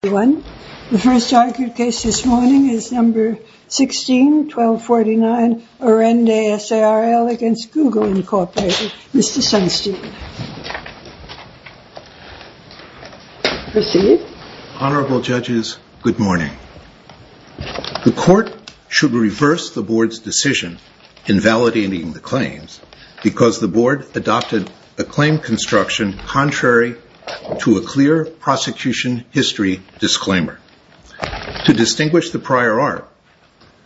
The first argued case this morning is No. 16-1249, Arendi S.A.R.L. v. Google Inc., Mr. Sunstein. Proceed. Honorable Judges, good morning. The Court should reverse the Board's decision invalidating the claims because the Board adopted a claim construction contrary to a clear prosecution history disclaimer. To distinguish the prior art,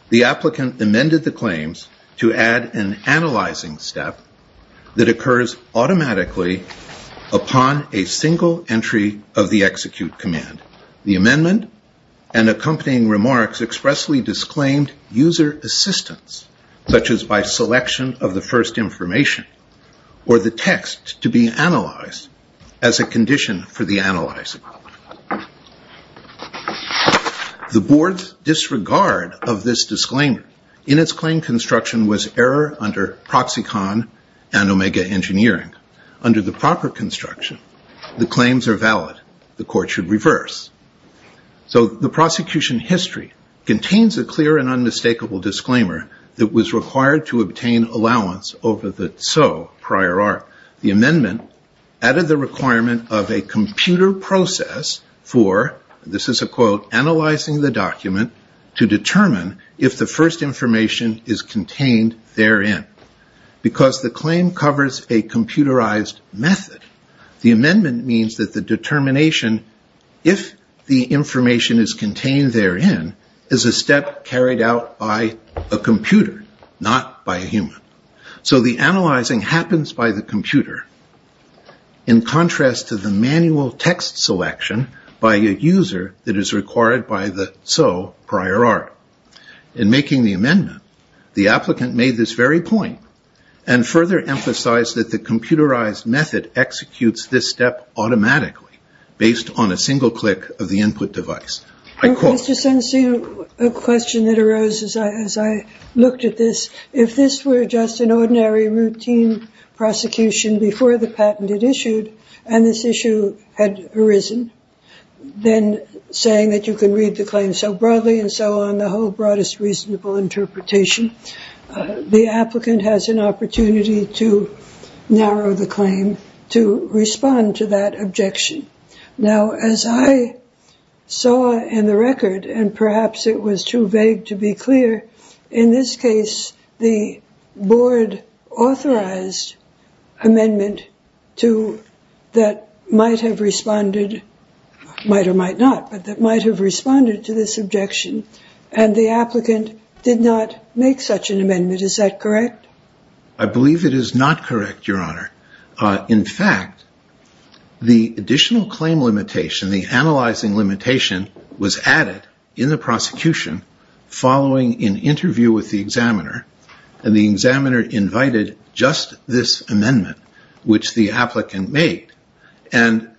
the applicant amended the claims to add an analyzing step that occurs automatically upon a single entry of the execute command. The amendment and accompanying remarks expressly disclaimed user assistance, such as by selection of the first information or the text to be analyzed as a condition for the analyzing. The Board's disregard of this disclaimer in its claim construction was error under Proxicon and Omega Engineering. Under the proper construction, the claims are valid. The Court should reverse. So the prosecution history contains a clear and unmistakable disclaimer that was required to obtain allowance over the so prior art. The amendment added the requirement of a computer process for, this is a quote, analyzing the document to determine if the first information is contained therein. Because the claim covers a computerized method, the amendment means that the determination if the information is contained therein is a step carried out by a computer, not by a human. So the analyzing happens by the computer in contrast to the manual text selection by a user that is required by the so prior art. In making the amendment, the applicant made this very point and further emphasized that the computerized method executes this step automatically based on a single click of the input device. I quote. Mr. Sensi, a question that arose as I looked at this, if this were just an ordinary routine prosecution before the patent had issued and this issue had arisen, then saying that you can read the claim so broadly and so on, the whole broadest reasonable interpretation, the applicant has an opportunity to narrow the claim to respond to that objection. Now, as I saw in the record, and perhaps it was too vague to be clear, in this case the board authorized amendment that might have responded, might or might not, but that might have responded to this objection, and the applicant did not make such an amendment. Is that correct? I believe it is not correct, Your Honor. In fact, the additional claim limitation, the analyzing limitation, was added in the prosecution following an interview with the examiner, and the examiner invited just this amendment, which the applicant made. And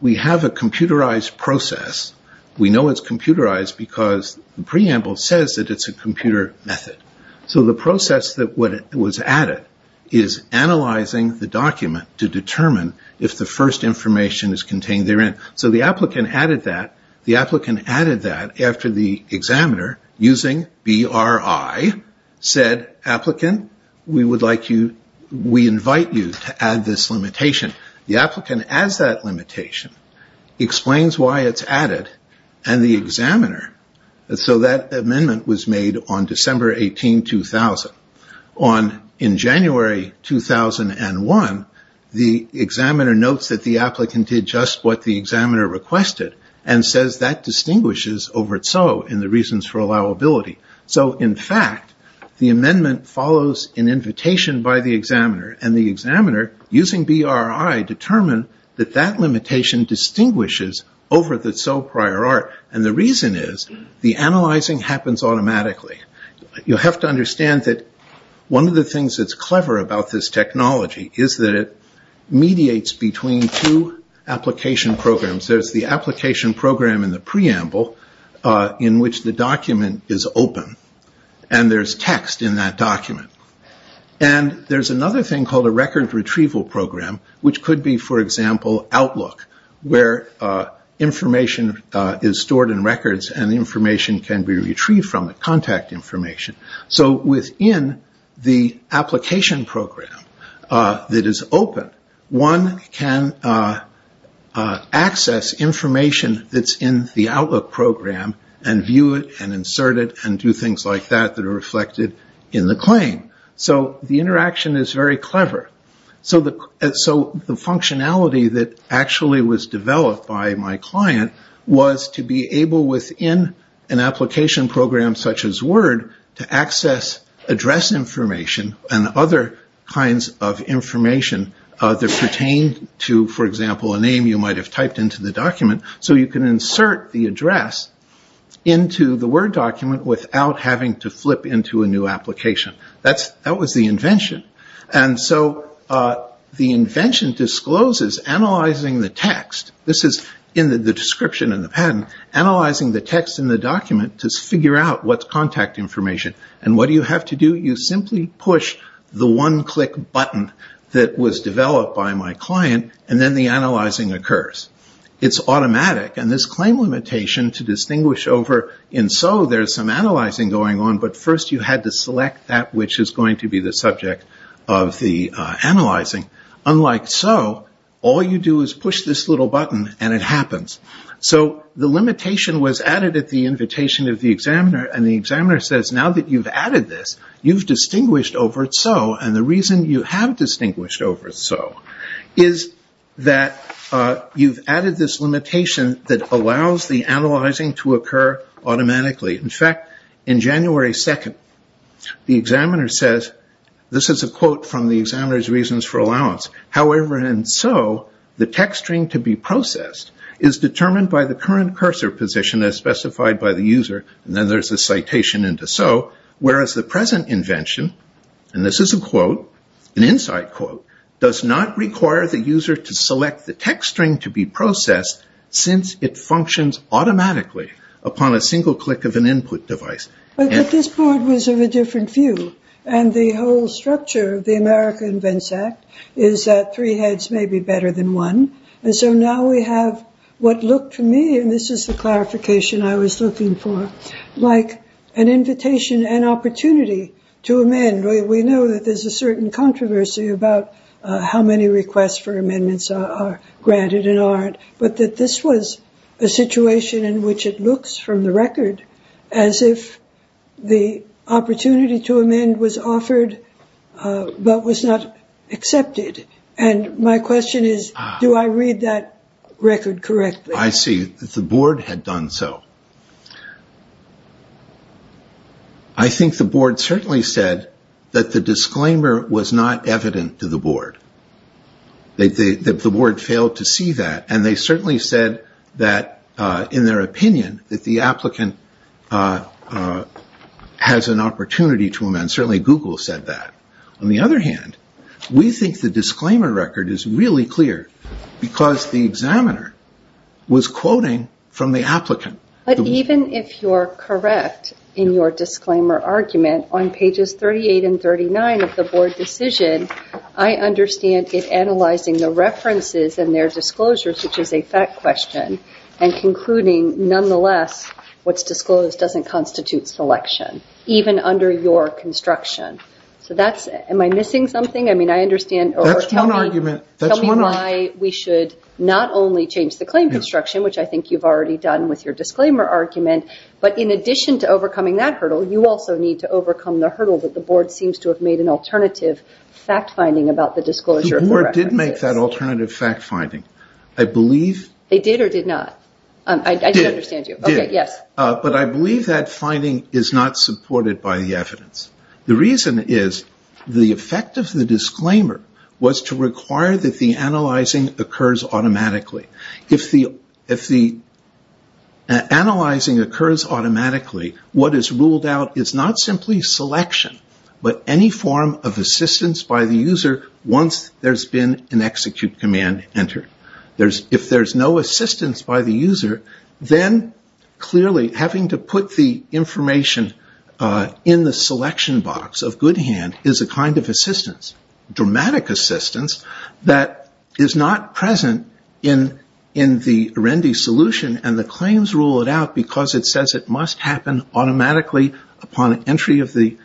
we have a computerized process. We know it's computerized because the preamble says that it's a computer method. So the process that was added is analyzing the document to determine if the first information is contained therein. So the applicant added that. The applicant added that after the examiner, using BRI, said, applicant, we invite you to add this limitation. The applicant adds that limitation, explains why it's added, and the examiner, so that amendment was made on December 18, 2000. In January 2001, the examiner notes that the applicant did just what the examiner requested, and says that distinguishes over its own in the reasons for allowability. So, in fact, the amendment follows an invitation by the examiner, and the examiner, using BRI, determined that that limitation distinguishes over the so prior art. And the reason is the analyzing happens automatically. You have to understand that one of the things that's clever about this technology is that it mediates between two application programs. There's the application program in the preamble, in which the document is open, and there's text in that document. And there's another thing called a record retrieval program, which could be, for example, Outlook, where information is stored in records and information can be retrieved from it, contact information. So within the application program that is open, one can access information that's in the Outlook program and view it and insert it and do things like that that are reflected in the claim. So the interaction is very clever. So the functionality that actually was developed by my client was to be able, within an application program such as Word, to access address information and other kinds of information that pertain to, for example, a name you might have typed into the document. So you can insert the address into the Word document without having to flip into a new application. That was the invention. And so the invention discloses analyzing the text. This is in the description in the patent, analyzing the text in the document to figure out what's contact information. And what do you have to do? You simply push the one-click button that was developed by my client, and then the analyzing occurs. It's automatic. And this claim limitation to distinguish over in SO, there's some analyzing going on, but first you had to select that which is going to be the subject of the analyzing. Unlike SO, all you do is push this little button and it happens. So the limitation was added at the invitation of the examiner, and the examiner says now that you've added this, you've distinguished over at SO. And the reason you have distinguished over at SO is that you've added this limitation that allows the analyzing to occur automatically. In fact, in January 2nd, the examiner says, this is a quote from the examiner's reasons for allowance, however in SO the text string to be processed is determined by the current cursor position as specified by the user, and then there's a citation into SO, whereas the present invention, and this is a quote, an insight quote, does not require the user to select the text string to be processed since it functions automatically upon a single click of an input device. But this board was of a different view, and the whole structure of the America Invents Act is that three heads may be better than one, and so now we have what looked to me, and this is the clarification I was looking for, like an invitation and opportunity to amend. We know that there's a certain controversy about how many requests for amendments are granted and aren't, but that this was a situation in which it looks from the record as if the opportunity to amend was offered but was not accepted. And my question is, do I read that record correctly? I see that the board had done so. I think the board certainly said that the disclaimer was not evident to the board, that the board failed to see that, and they certainly said that, in their opinion, that the applicant has an opportunity to amend. Certainly Google said that. On the other hand, we think the disclaimer record is really clear because the examiner was quoting from the applicant. But even if you're correct in your disclaimer argument, on pages 38 and 39 of the board decision, I understand it analyzing the references and their disclosures, which is a fact question, and concluding, nonetheless, what's disclosed doesn't constitute selection, even under your construction. Am I missing something? That's one argument. Tell me why we should not only change the claim construction, which I think you've already done with your disclaimer argument, but in addition to overcoming that hurdle, you also need to overcome the hurdle that the board seems to have made an alternative fact-finding about the disclosure. The board did make that alternative fact-finding. They did or did not? They did. But I believe that finding is not supported by the evidence. The reason is the effect of the disclaimer was to require that the analyzing occurs automatically. If the analyzing occurs automatically, what is ruled out is not simply selection, but any form of assistance by the user once there's been an execute command entered. If there's no assistance by the user, then clearly having to put the information in the selection box of good hand is a kind of assistance, dramatic assistance that is not present in the RENDI solution, and the claims rule it out because it says it must happen automatically upon entry of the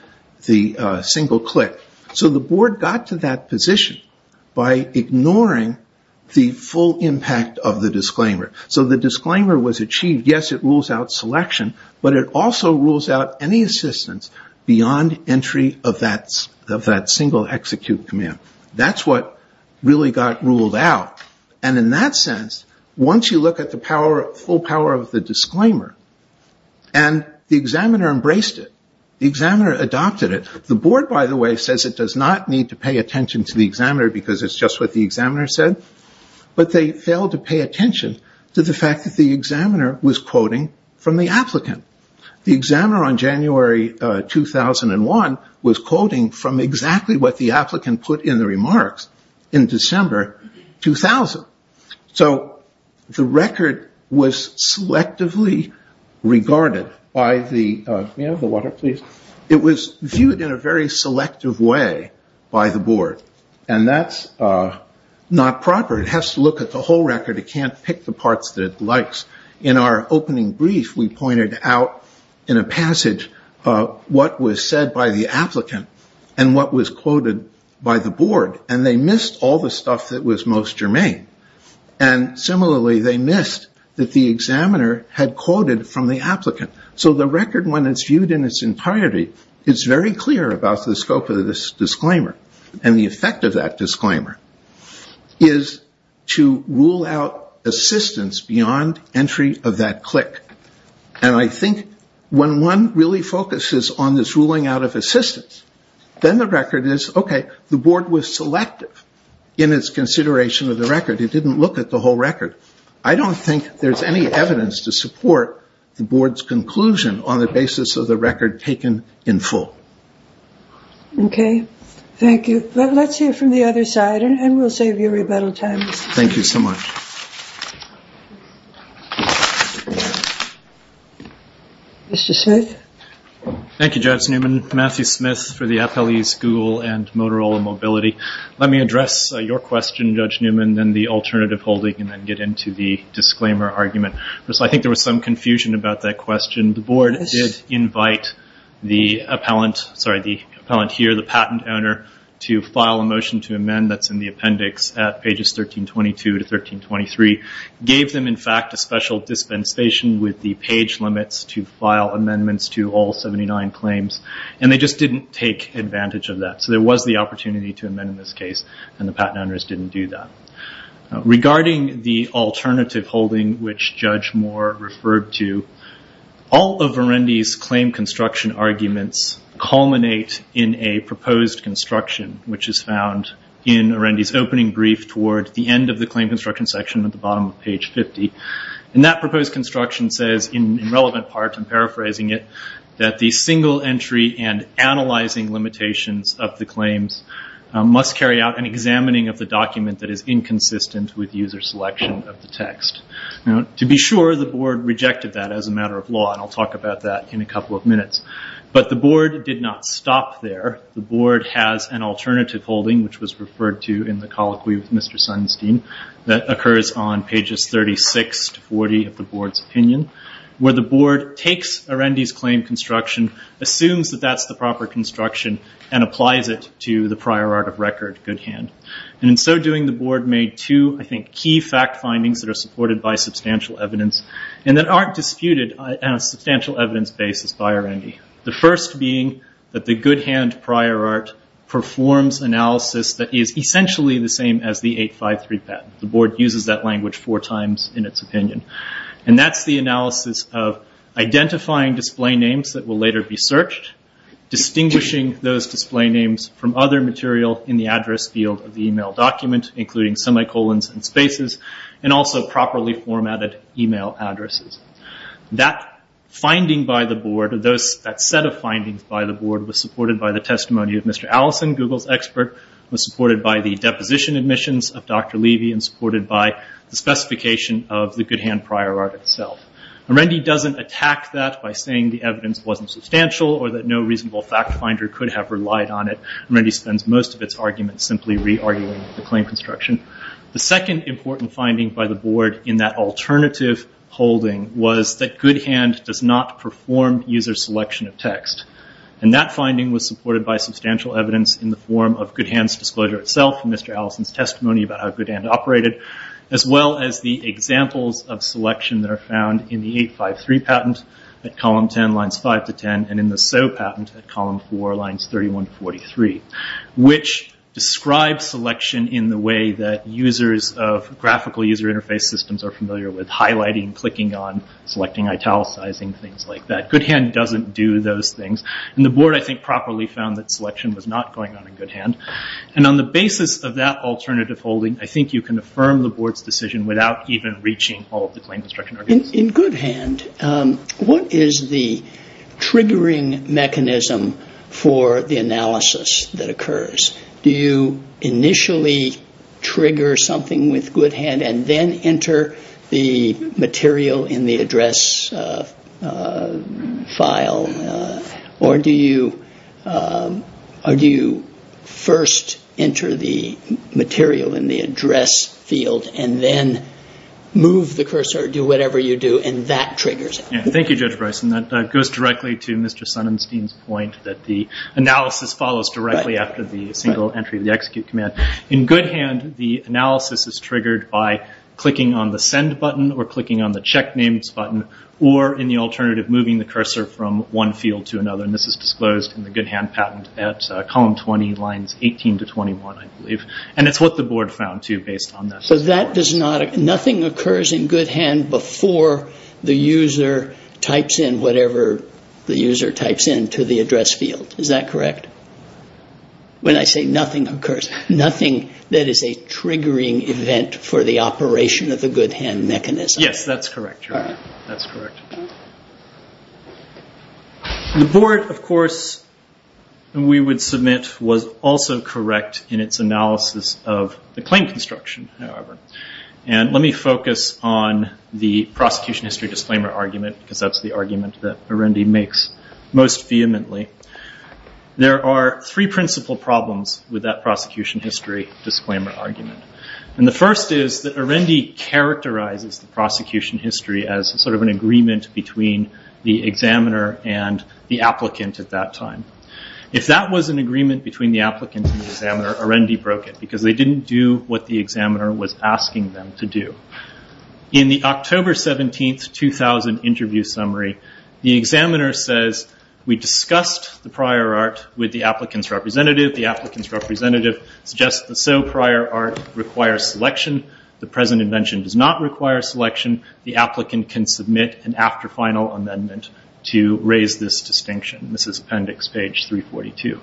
single click. So the board got to that position by ignoring the full impact of the disclaimer. So the disclaimer was achieved. Yes, it rules out selection, but it also rules out any assistance beyond entry of that single execute command. That's what really got ruled out. And in that sense, once you look at the full power of the disclaimer, and the examiner embraced it, the examiner adopted it, the board, by the way, says it does not need to pay attention to the examiner because it's just what the examiner said, but they failed to pay attention to the fact that the examiner was quoting from the applicant. The examiner on January 2001 was quoting from exactly what the applicant put in the remarks in December 2000. So the record was selectively regarded by the, may I have the water please? It was viewed in a very selective way by the board, and that's not proper. It has to look at the whole record. It can't pick the parts that it likes. In our opening brief, we pointed out in a passage what was said by the applicant and what was quoted by the board, and they missed all the stuff that was most germane. And similarly, they missed that the examiner had quoted from the applicant. So the record, when it's viewed in its entirety, it's very clear about the scope of this disclaimer, and the effect of that disclaimer is to rule out assistance beyond entry of that click. And I think when one really focuses on this ruling out of assistance, then the record is, okay, the board was selective in its consideration of the record. It didn't look at the whole record. I don't think there's any evidence to support the board's conclusion on the basis of the record taken in full. Okay. Thank you. Let's hear from the other side, and we'll save you rebuttal time. Thank you so much. Mr. Smith. Thank you, Judge Newman, Matthew Smith for the Appellee School and Motorola Mobility. Let me address your question, Judge Newman, then the alternative holding, and then get into the disclaimer argument. So I think there was some confusion about that question. The board did invite the appellant here, the patent owner, to file a motion to amend that's in the appendix at pages 1322 to 1323. Gave them, in fact, a special dispensation with the page limits to file amendments to all 79 claims, and they just didn't take advantage of that. So there was the opportunity to amend in this case, and the patent owners didn't do that. Regarding the alternative holding, which Judge Moore referred to, all of Arendi's claim construction arguments culminate in a proposed construction, which is found in Arendi's opening brief towards the end of the claim construction section at the bottom of page 50. And that proposed construction says, in relevant parts, I'm paraphrasing it, that the single entry and analyzing limitations of the claims must carry out an examining of the document that is inconsistent with user selection of the text. To be sure, the board rejected that as a matter of law, and I'll talk about that in a couple of minutes. But the board did not stop there. The board has an alternative holding, which was referred to in the colloquy with Mr. Sunstein, that occurs on pages 36 to 40 of the board's opinion, where the board takes Arendi's claim construction, assumes that that's the proper construction, and applies it to the prior art of record, good hand. And in so doing, the board made two, I think, key fact findings that are supported by substantial evidence, and that aren't disputed on a substantial evidence basis by Arendi. The first being that the good hand prior art performs analysis that is essentially the same as the 853 patent. The board uses that language four times in its opinion. And that's the analysis of identifying display names that will later be searched, distinguishing those display names from other material in the address field of the email document, including semicolons and spaces, and also properly formatted email addresses. That finding by the board, that set of findings by the board, was supported by the testimony of Mr. Allison, Google's expert, was supported by the deposition admissions of Dr. Levy, and supported by the specification of the good hand prior art itself. Arendi doesn't attack that by saying the evidence wasn't substantial, or that no reasonable fact finder could have relied on it. Arendi spends most of its argument simply re-arguing the claim construction. The second important finding by the board in that alternative holding was that good hand does not perform user selection of text. And that finding was supported by substantial evidence in the form of good hand's disclosure itself, and Mr. Allison's testimony about how good hand operated, as well as the examples of selection that are found in the 853 patent, at column 10, lines 5 to 10, and in the SO patent at column 4, lines 31 to 43, which describes selection in the way that users of graphical user interface systems are familiar with, highlighting, clicking on, selecting, italicizing, things like that. Good hand doesn't do those things. And the board, I think, properly found that selection was not going on in good hand. And on the basis of that alternative holding, I think you can affirm the board's decision without even reaching all of the claim construction arguments. In good hand, what is the triggering mechanism for the analysis that occurs? Do you initially trigger something with good hand and then enter the material in the address file? Or do you first enter the material in the address field and then move the cursor or do whatever you do, and that triggers it? Thank you, Judge Bryson. That goes directly to Mr. Sonnenstein's point that the analysis follows directly after the single entry of the execute command. In good hand, the analysis is triggered by clicking on the send button or clicking on the check names button, or in the alternative, moving the cursor from one field to another. And this is disclosed in the good hand patent at column 20, lines 18 to 21, I believe. And it's what the board found, too, based on this. So nothing occurs in good hand before the user types in whatever the user types in to the address field. Is that correct? When I say nothing occurs, nothing that is a triggering event for the operation of the good hand mechanism. Yes, that's correct, Your Honor. That's correct. The board, of course, we would submit, was also correct in its analysis of the claim construction, however. And let me focus on the prosecution history disclaimer argument, because that's the argument that Arendi makes most vehemently. There are three principal problems with that prosecution history disclaimer argument. And the first is that Arendi characterizes the prosecution history as sort of an agreement between the examiner and the applicant at that time. If that was an agreement between the applicant and the examiner, Arendi broke it, because they didn't do what the examiner was asking them to do. In the October 17, 2000 interview summary, the examiner says, we discussed the prior art with the applicant's representative. The applicant's representative suggests the so prior art requires selection. The present invention does not require selection. The applicant can submit an after final amendment to raise this distinction. This is appendix page 342.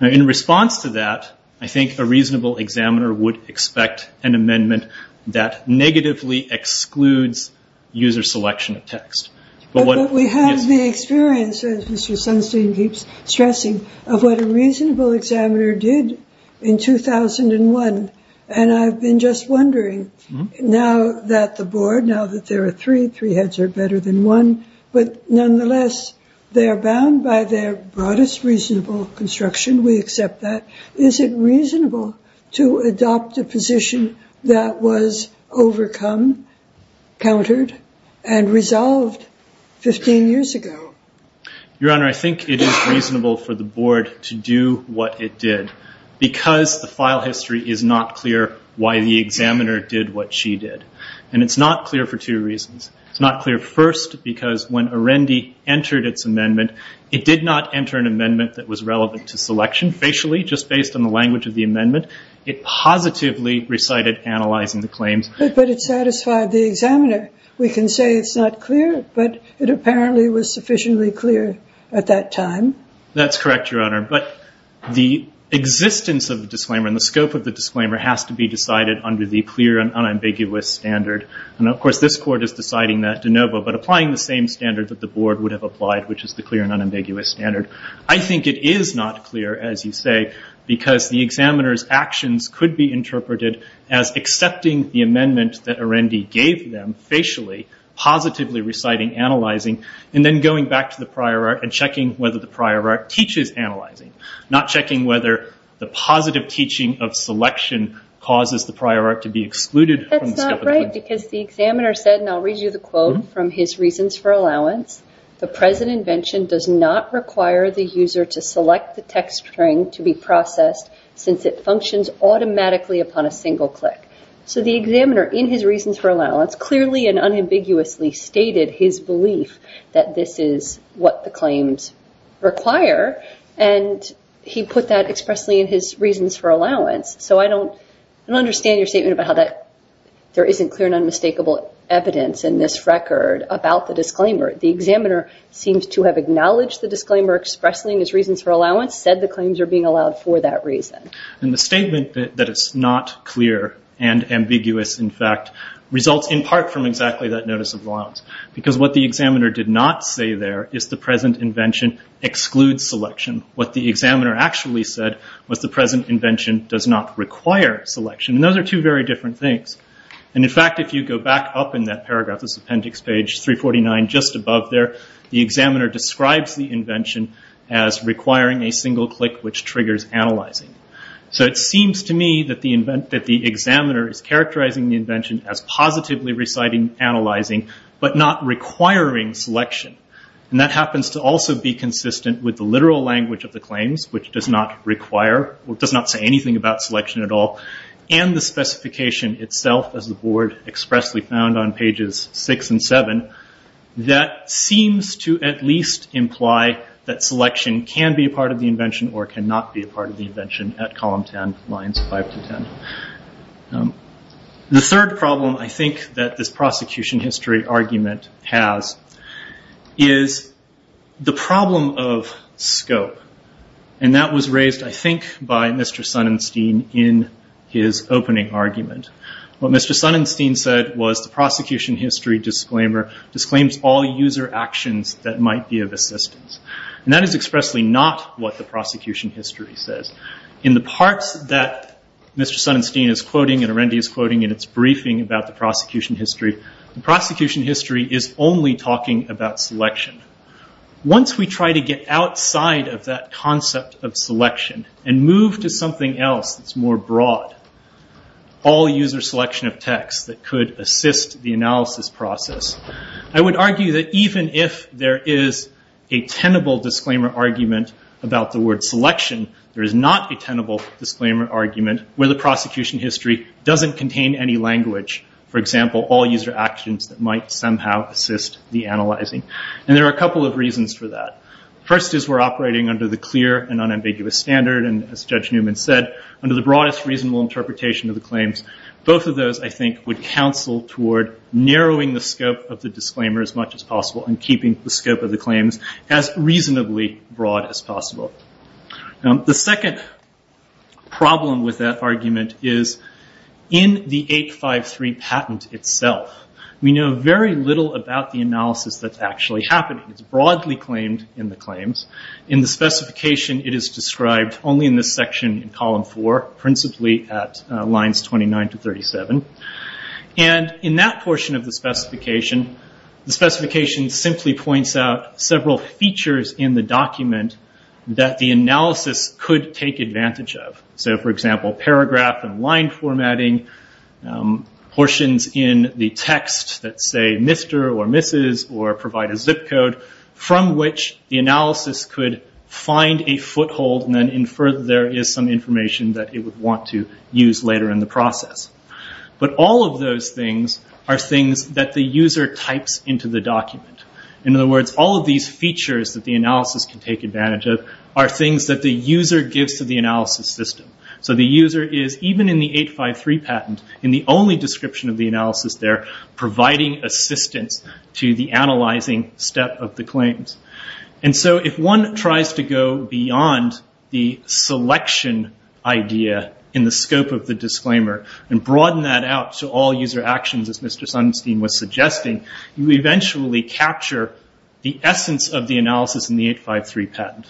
Now in response to that, I think a reasonable examiner would expect an amendment that negatively excludes user selection of text. But we have the experience, as Mr. Sunstein keeps stressing, of what a reasonable examiner did in 2001. And I've been just wondering, now that the board, now that there are three, three heads are better than one, but nonetheless, they are bound by their broadest reasonable construction. We accept that. Is it reasonable to adopt a position that was overcome, countered, and resolved 15 years ago? Your Honor, I think it is reasonable for the board to do what it did, because the file history is not clear why the examiner did what she did. And it's not clear for two reasons. It's not clear first because when Arendi entered its amendment, it did not enter an amendment that was relevant to selection. Facially, just based on the language of the amendment, it positively recited analyzing the claims. But it satisfied the examiner. We can say it's not clear, but it apparently was sufficiently clear at that time. That's correct, Your Honor. But the existence of the disclaimer and the scope of the disclaimer has to be decided under the clear and unambiguous standard. And of course, this court is deciding that de novo, but applying the same standard that the board would have applied, which is the clear and unambiguous standard. I think it is not clear, as you say, because the examiner's actions could be interpreted as accepting the amendment that Arendi gave them facially, positively reciting analyzing, and then going back to the prior art and checking whether the prior art teaches analyzing, not checking whether the positive teaching of selection causes the prior art to be excluded from the scope of the claim. That's correct, because the examiner said, and I'll read you the quote from his reasons for allowance, the present invention does not require the user to select the text string to be processed since it functions automatically upon a single click. So the examiner, in his reasons for allowance, clearly and unambiguously stated his belief that this is what the claims require, and he put that expressly in his reasons for allowance. So I don't understand your statement about how there isn't clear and unmistakable evidence in this record about the disclaimer. The examiner seems to have acknowledged the disclaimer expressly in his reasons for allowance, said the claims are being allowed for that reason. The statement that it's not clear and ambiguous, in fact, results in part from exactly that notice of allowance, because what the examiner did not say there is the present invention excludes selection. What the examiner actually said was the present invention does not require selection. Those are two very different things. In fact, if you go back up in that paragraph, this appendix page 349, just above there, the examiner describes the invention as requiring a single click, which triggers analyzing. So it seems to me that the examiner is characterizing the invention as positively reciting, analyzing, but not requiring selection. And that happens to also be consistent with the literal language of the claims, which does not require or does not say anything about selection at all, and the specification itself, as the board expressly found on pages 6 and 7, that seems to at least imply that selection can be a part of the invention or cannot be a part of the invention at column 10, lines 5 to 10. The third problem I think that this prosecution history argument has is the problem of scope. And that was raised, I think, by Mr. Sunnestein in his opening argument. What Mr. Sunnestein said was the prosecution history disclaimer disclaims all user actions that might be of assistance. And that is expressly not what the prosecution history says. In the parts that Mr. Sunnestein is quoting and Arendi is quoting in its briefing about the prosecution history, the prosecution history is only talking about selection. Once we try to get outside of that concept of selection and move to something else that's more broad, all user selection of text that could assist the analysis process, I would argue that even if there is a tenable disclaimer argument about the word selection, there is not a tenable disclaimer argument where the prosecution history doesn't contain any language. For example, all user actions that might somehow assist the analyzing. And there are a couple of reasons for that. First is we're operating under the clear and unambiguous standard, and as Judge Newman said, under the broadest reasonable interpretation of the claims. Both of those, I think, would counsel toward narrowing the scope of the disclaimer as much as possible and keeping the scope of the claims as reasonably broad as possible. The second problem with that argument is in the 853 patent itself, we know very little about the analysis that's actually happening. It's broadly claimed in the claims. In the specification, it is described only in this section in column four, principally at lines 29 to 37. And in that portion of the specification, the specification simply points out several features in the document that the analysis could take advantage of. For example, paragraph and line formatting, portions in the text that say Mr. or Mrs. or provide a zip code, from which the analysis could find a foothold and then infer that there is some information that it would want to use later in the process. But all of those things are things that the user types into the document. In other words, all of these features that the analysis can take advantage of are things that the user gives to the analysis system. So the user is, even in the 853 patent, in the only description of the analysis there, providing assistance to the analyzing step of the claims. And so if one tries to go beyond the selection idea in the scope of the disclaimer and broaden that out to all user actions, as Mr. Sunstein was suggesting, you eventually capture the essence of the analysis in the 853 patent.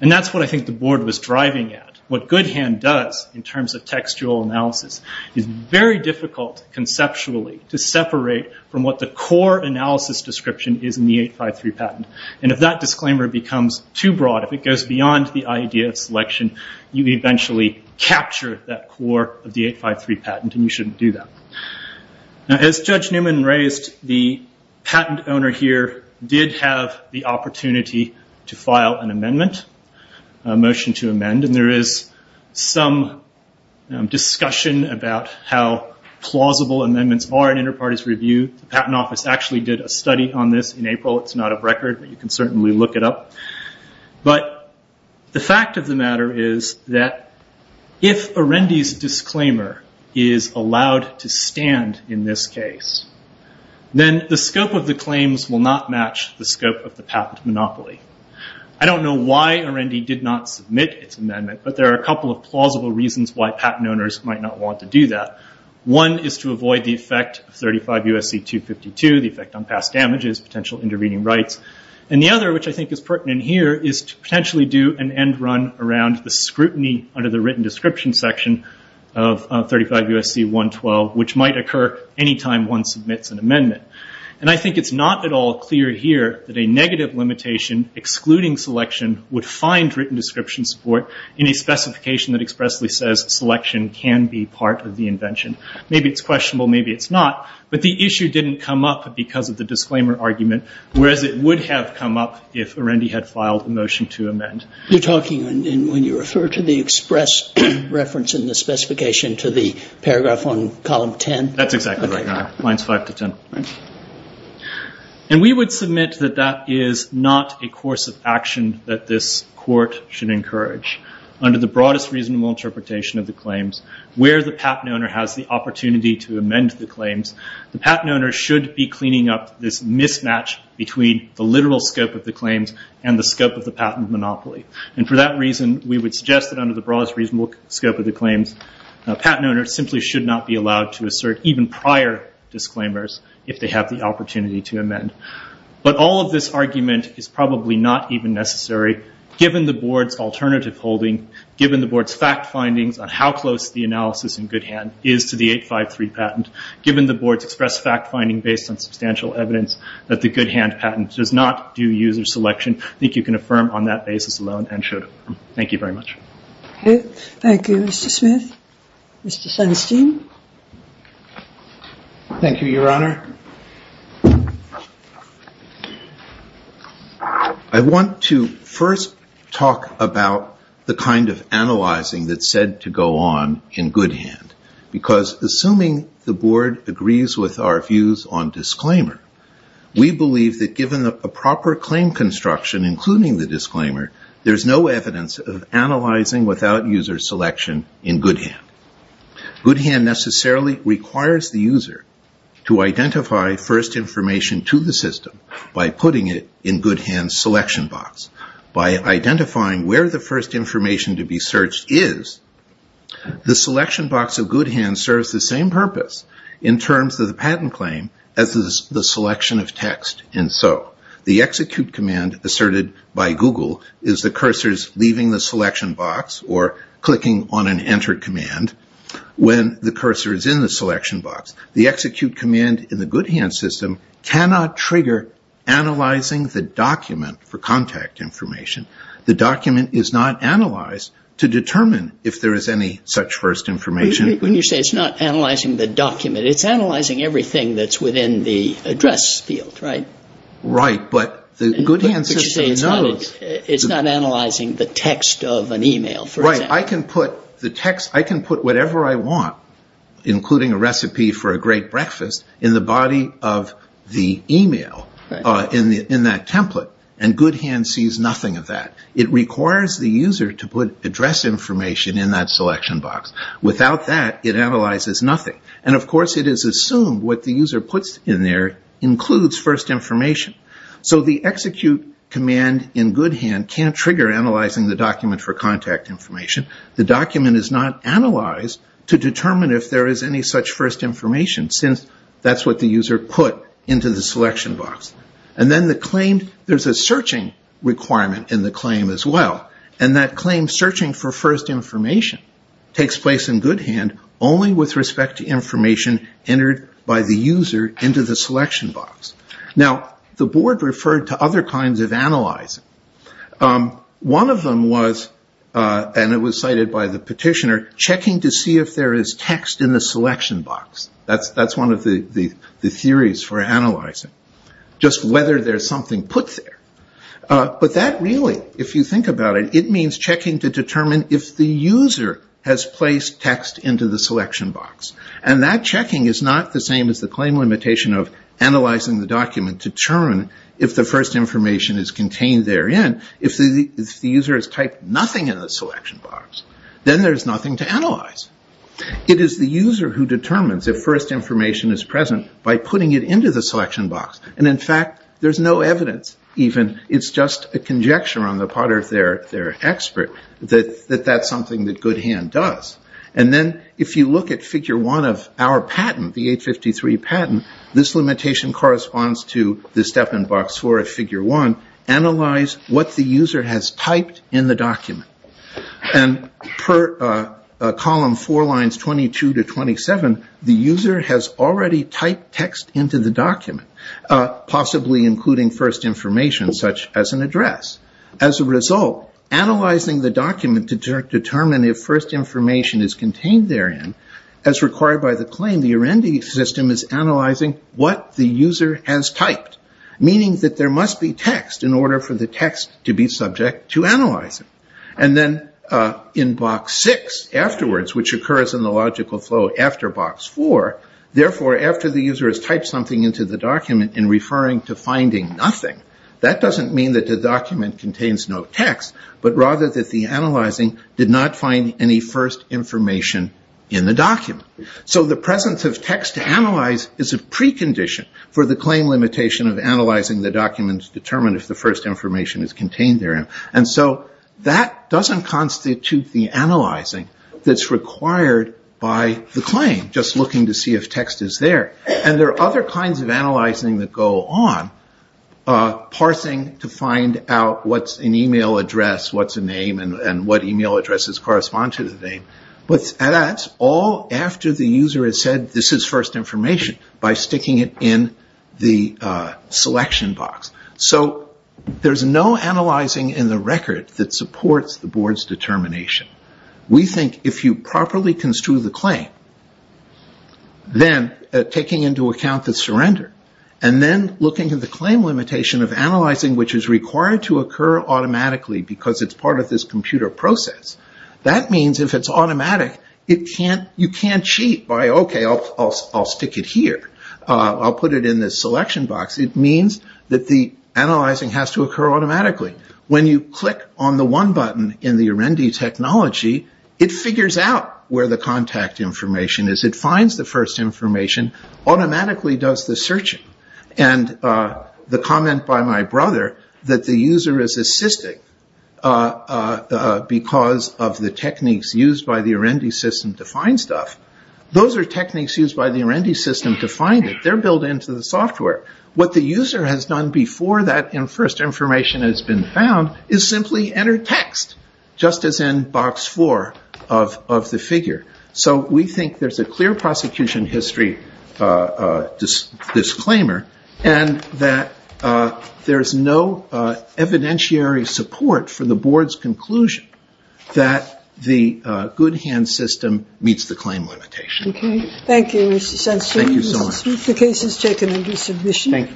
And that's what I think the board was driving at. What Goodhand does, in terms of textual analysis, is very difficult, conceptually, to separate from what the core analysis description is in the 853 patent. And if that disclaimer becomes too broad, if it goes beyond the idea of selection, you eventually capture that core of the 853 patent, and you shouldn't do that. As Judge Newman raised, the patent owner here did have the opportunity to file an amendment, a motion to amend, and there is some discussion about how plausible amendments are in inter-parties review. The Patent Office actually did a study on this in April. It's not a record, but you can certainly look it up. But the fact of the matter is that if Arendi's disclaimer is allowed to stand in this case, then the scope of the claims will not match the scope of the patent monopoly. I don't know why Arendi did not submit its amendment, but there are a couple of plausible reasons why patent owners might not want to do that. One is to avoid the effect of 35 U.S.C. 252, the effect on past damages, potential intervening rights. And the other, which I think is pertinent here, is to potentially do an end run around the scrutiny under the written description section of 35 U.S.C. 112, which might occur any time one submits an amendment. And I think it's not at all clear here that a negative limitation excluding selection would find written description support in a specification that expressly says selection can be part of the invention. Maybe it's questionable, maybe it's not. But the issue didn't come up because of the disclaimer argument, whereas it would have come up if Arendi had filed a motion to amend. You're talking when you refer to the express reference in the specification to the paragraph on column 10? That's exactly right. Lines 5 to 10. And we would submit that that is not a course of action that this court should encourage. Under the broadest reasonable interpretation of the claims, where the patent owner has the opportunity to amend the claims, the patent owner should be cleaning up this mismatch between the literal scope of the claims and the scope of the patent monopoly. And for that reason, we would suggest that under the broadest reasonable scope of the claims, a patent owner simply should not be allowed to assert even prior disclaimers if they have the opportunity to amend. But all of this argument is probably not even necessary, given the board's alternative holding, given the board's fact findings on how close the analysis in Goodhand is to the 853 patent, given the board's express fact finding based on substantial evidence that the Goodhand patent does not do user selection. I think you can affirm on that basis alone and should. Thank you very much. Okay. Thank you, Mr. Smith. Mr. Sunstein. Thank you, Your Honor. I want to first talk about the kind of analyzing that's said to go on in Goodhand, because assuming the board agrees with our views on disclaimer, we believe that given a proper claim construction, including the disclaimer, there's no evidence of analyzing without user selection in Goodhand. Goodhand necessarily requires the user to identify first information to the system by putting it in Goodhand's selection box. By identifying where the first information to be searched is, the selection box of Goodhand serves the same purpose in terms of the patent claim as does the selection of text, and so. The execute command asserted by Google is the cursors leaving the selection box or clicking on an enter command when the cursor is in the selection box. The execute command in the Goodhand system cannot trigger analyzing the document for contact information. The document is not analyzed to determine if there is any such first information. You say it's not analyzing the document. It's analyzing everything that's within the address field, right? Right, but the Goodhand system knows. It's not analyzing the text of an email, for example. Right. I can put the text, I can put whatever I want, including a recipe for a great breakfast, in the body of the email, in that template, and Goodhand sees nothing of that. It requires the user to put address information in that selection box. Without that, it analyzes nothing. And, of course, it is assumed what the user puts in there includes first information. So the execute command in Goodhand can't trigger analyzing the document for contact information. The document is not analyzed to determine if there is any such first information since that's what the user put into the selection box. And then the claim, there's a searching requirement in the claim as well. And that claim, searching for first information, takes place in Goodhand only with respect to information entered by the user into the selection box. Now, the board referred to other kinds of analyzing. One of them was, and it was cited by the petitioner, checking to see if there is text in the selection box. That's one of the theories for analyzing, just whether there's something put there. But that really, if you think about it, it means checking to determine if the user has placed text into the selection box. And that checking is not the same as the claim limitation of analyzing the document to determine if the first information is contained therein. If the user has typed nothing in the selection box, then there's nothing to analyze. It is the user who determines if first information is present by putting it into the selection box. And in fact, there's no evidence even. It's just a conjecture on the part of their expert that that's something that Goodhand does. And then if you look at figure one of our patent, the 853 patent, this limitation corresponds to the step in box four of figure one, analyze what the user has typed in the document. And per column four lines 22 to 27, the user has already typed text into the document, possibly including first information such as an address. As a result, analyzing the document to determine if first information is contained therein, as required by the claim, the URENDI system is analyzing what the user has typed, meaning that there must be text in order for the text to be subject to analyzing. And then in box six afterwards, which occurs in the logical flow after box four, therefore after the user has typed something into the document in referring to finding nothing, that doesn't mean that the document contains no text, but rather that the analyzing did not find any first information in the document. So the presence of text to analyze is a precondition for the claim limitation of analyzing the document to determine if the first information is contained therein. And so that doesn't constitute the analyzing that's required by the claim, just looking to see if text is there. And there are other kinds of analyzing that go on, parsing to find out what's an email address, what's a name, and what email addresses correspond to the name. But that's all after the user has said this is first information by sticking it in the selection box. So there's no analyzing in the record that supports the board's determination. We think if you properly construe the claim, then taking into account the surrender, and then looking at the claim limitation of analyzing which is required to occur automatically because it's part of this computer process, that means if it's automatic, you can't cheat by, okay, I'll stick it here. I'll put it in this selection box. It means that the analyzing has to occur automatically. When you click on the one button in the Aurendi technology, it figures out where the contact information is. It finds the first information, automatically does the searching. And the comment by my brother that the user is assisting because of the techniques used by the Aurendi system to find stuff, those are techniques used by the Aurendi system to find it. They're built into the software. What the user has done before that first information has been found is simply enter text, just as in box four of the figure. So we think there's a clear prosecution history disclaimer and that there's no evidentiary support for the board's conclusion that the good hand system meets the claim limitation. Okay. Thank you, Mr. Sensenbrenner. Thank you so much. Thank you.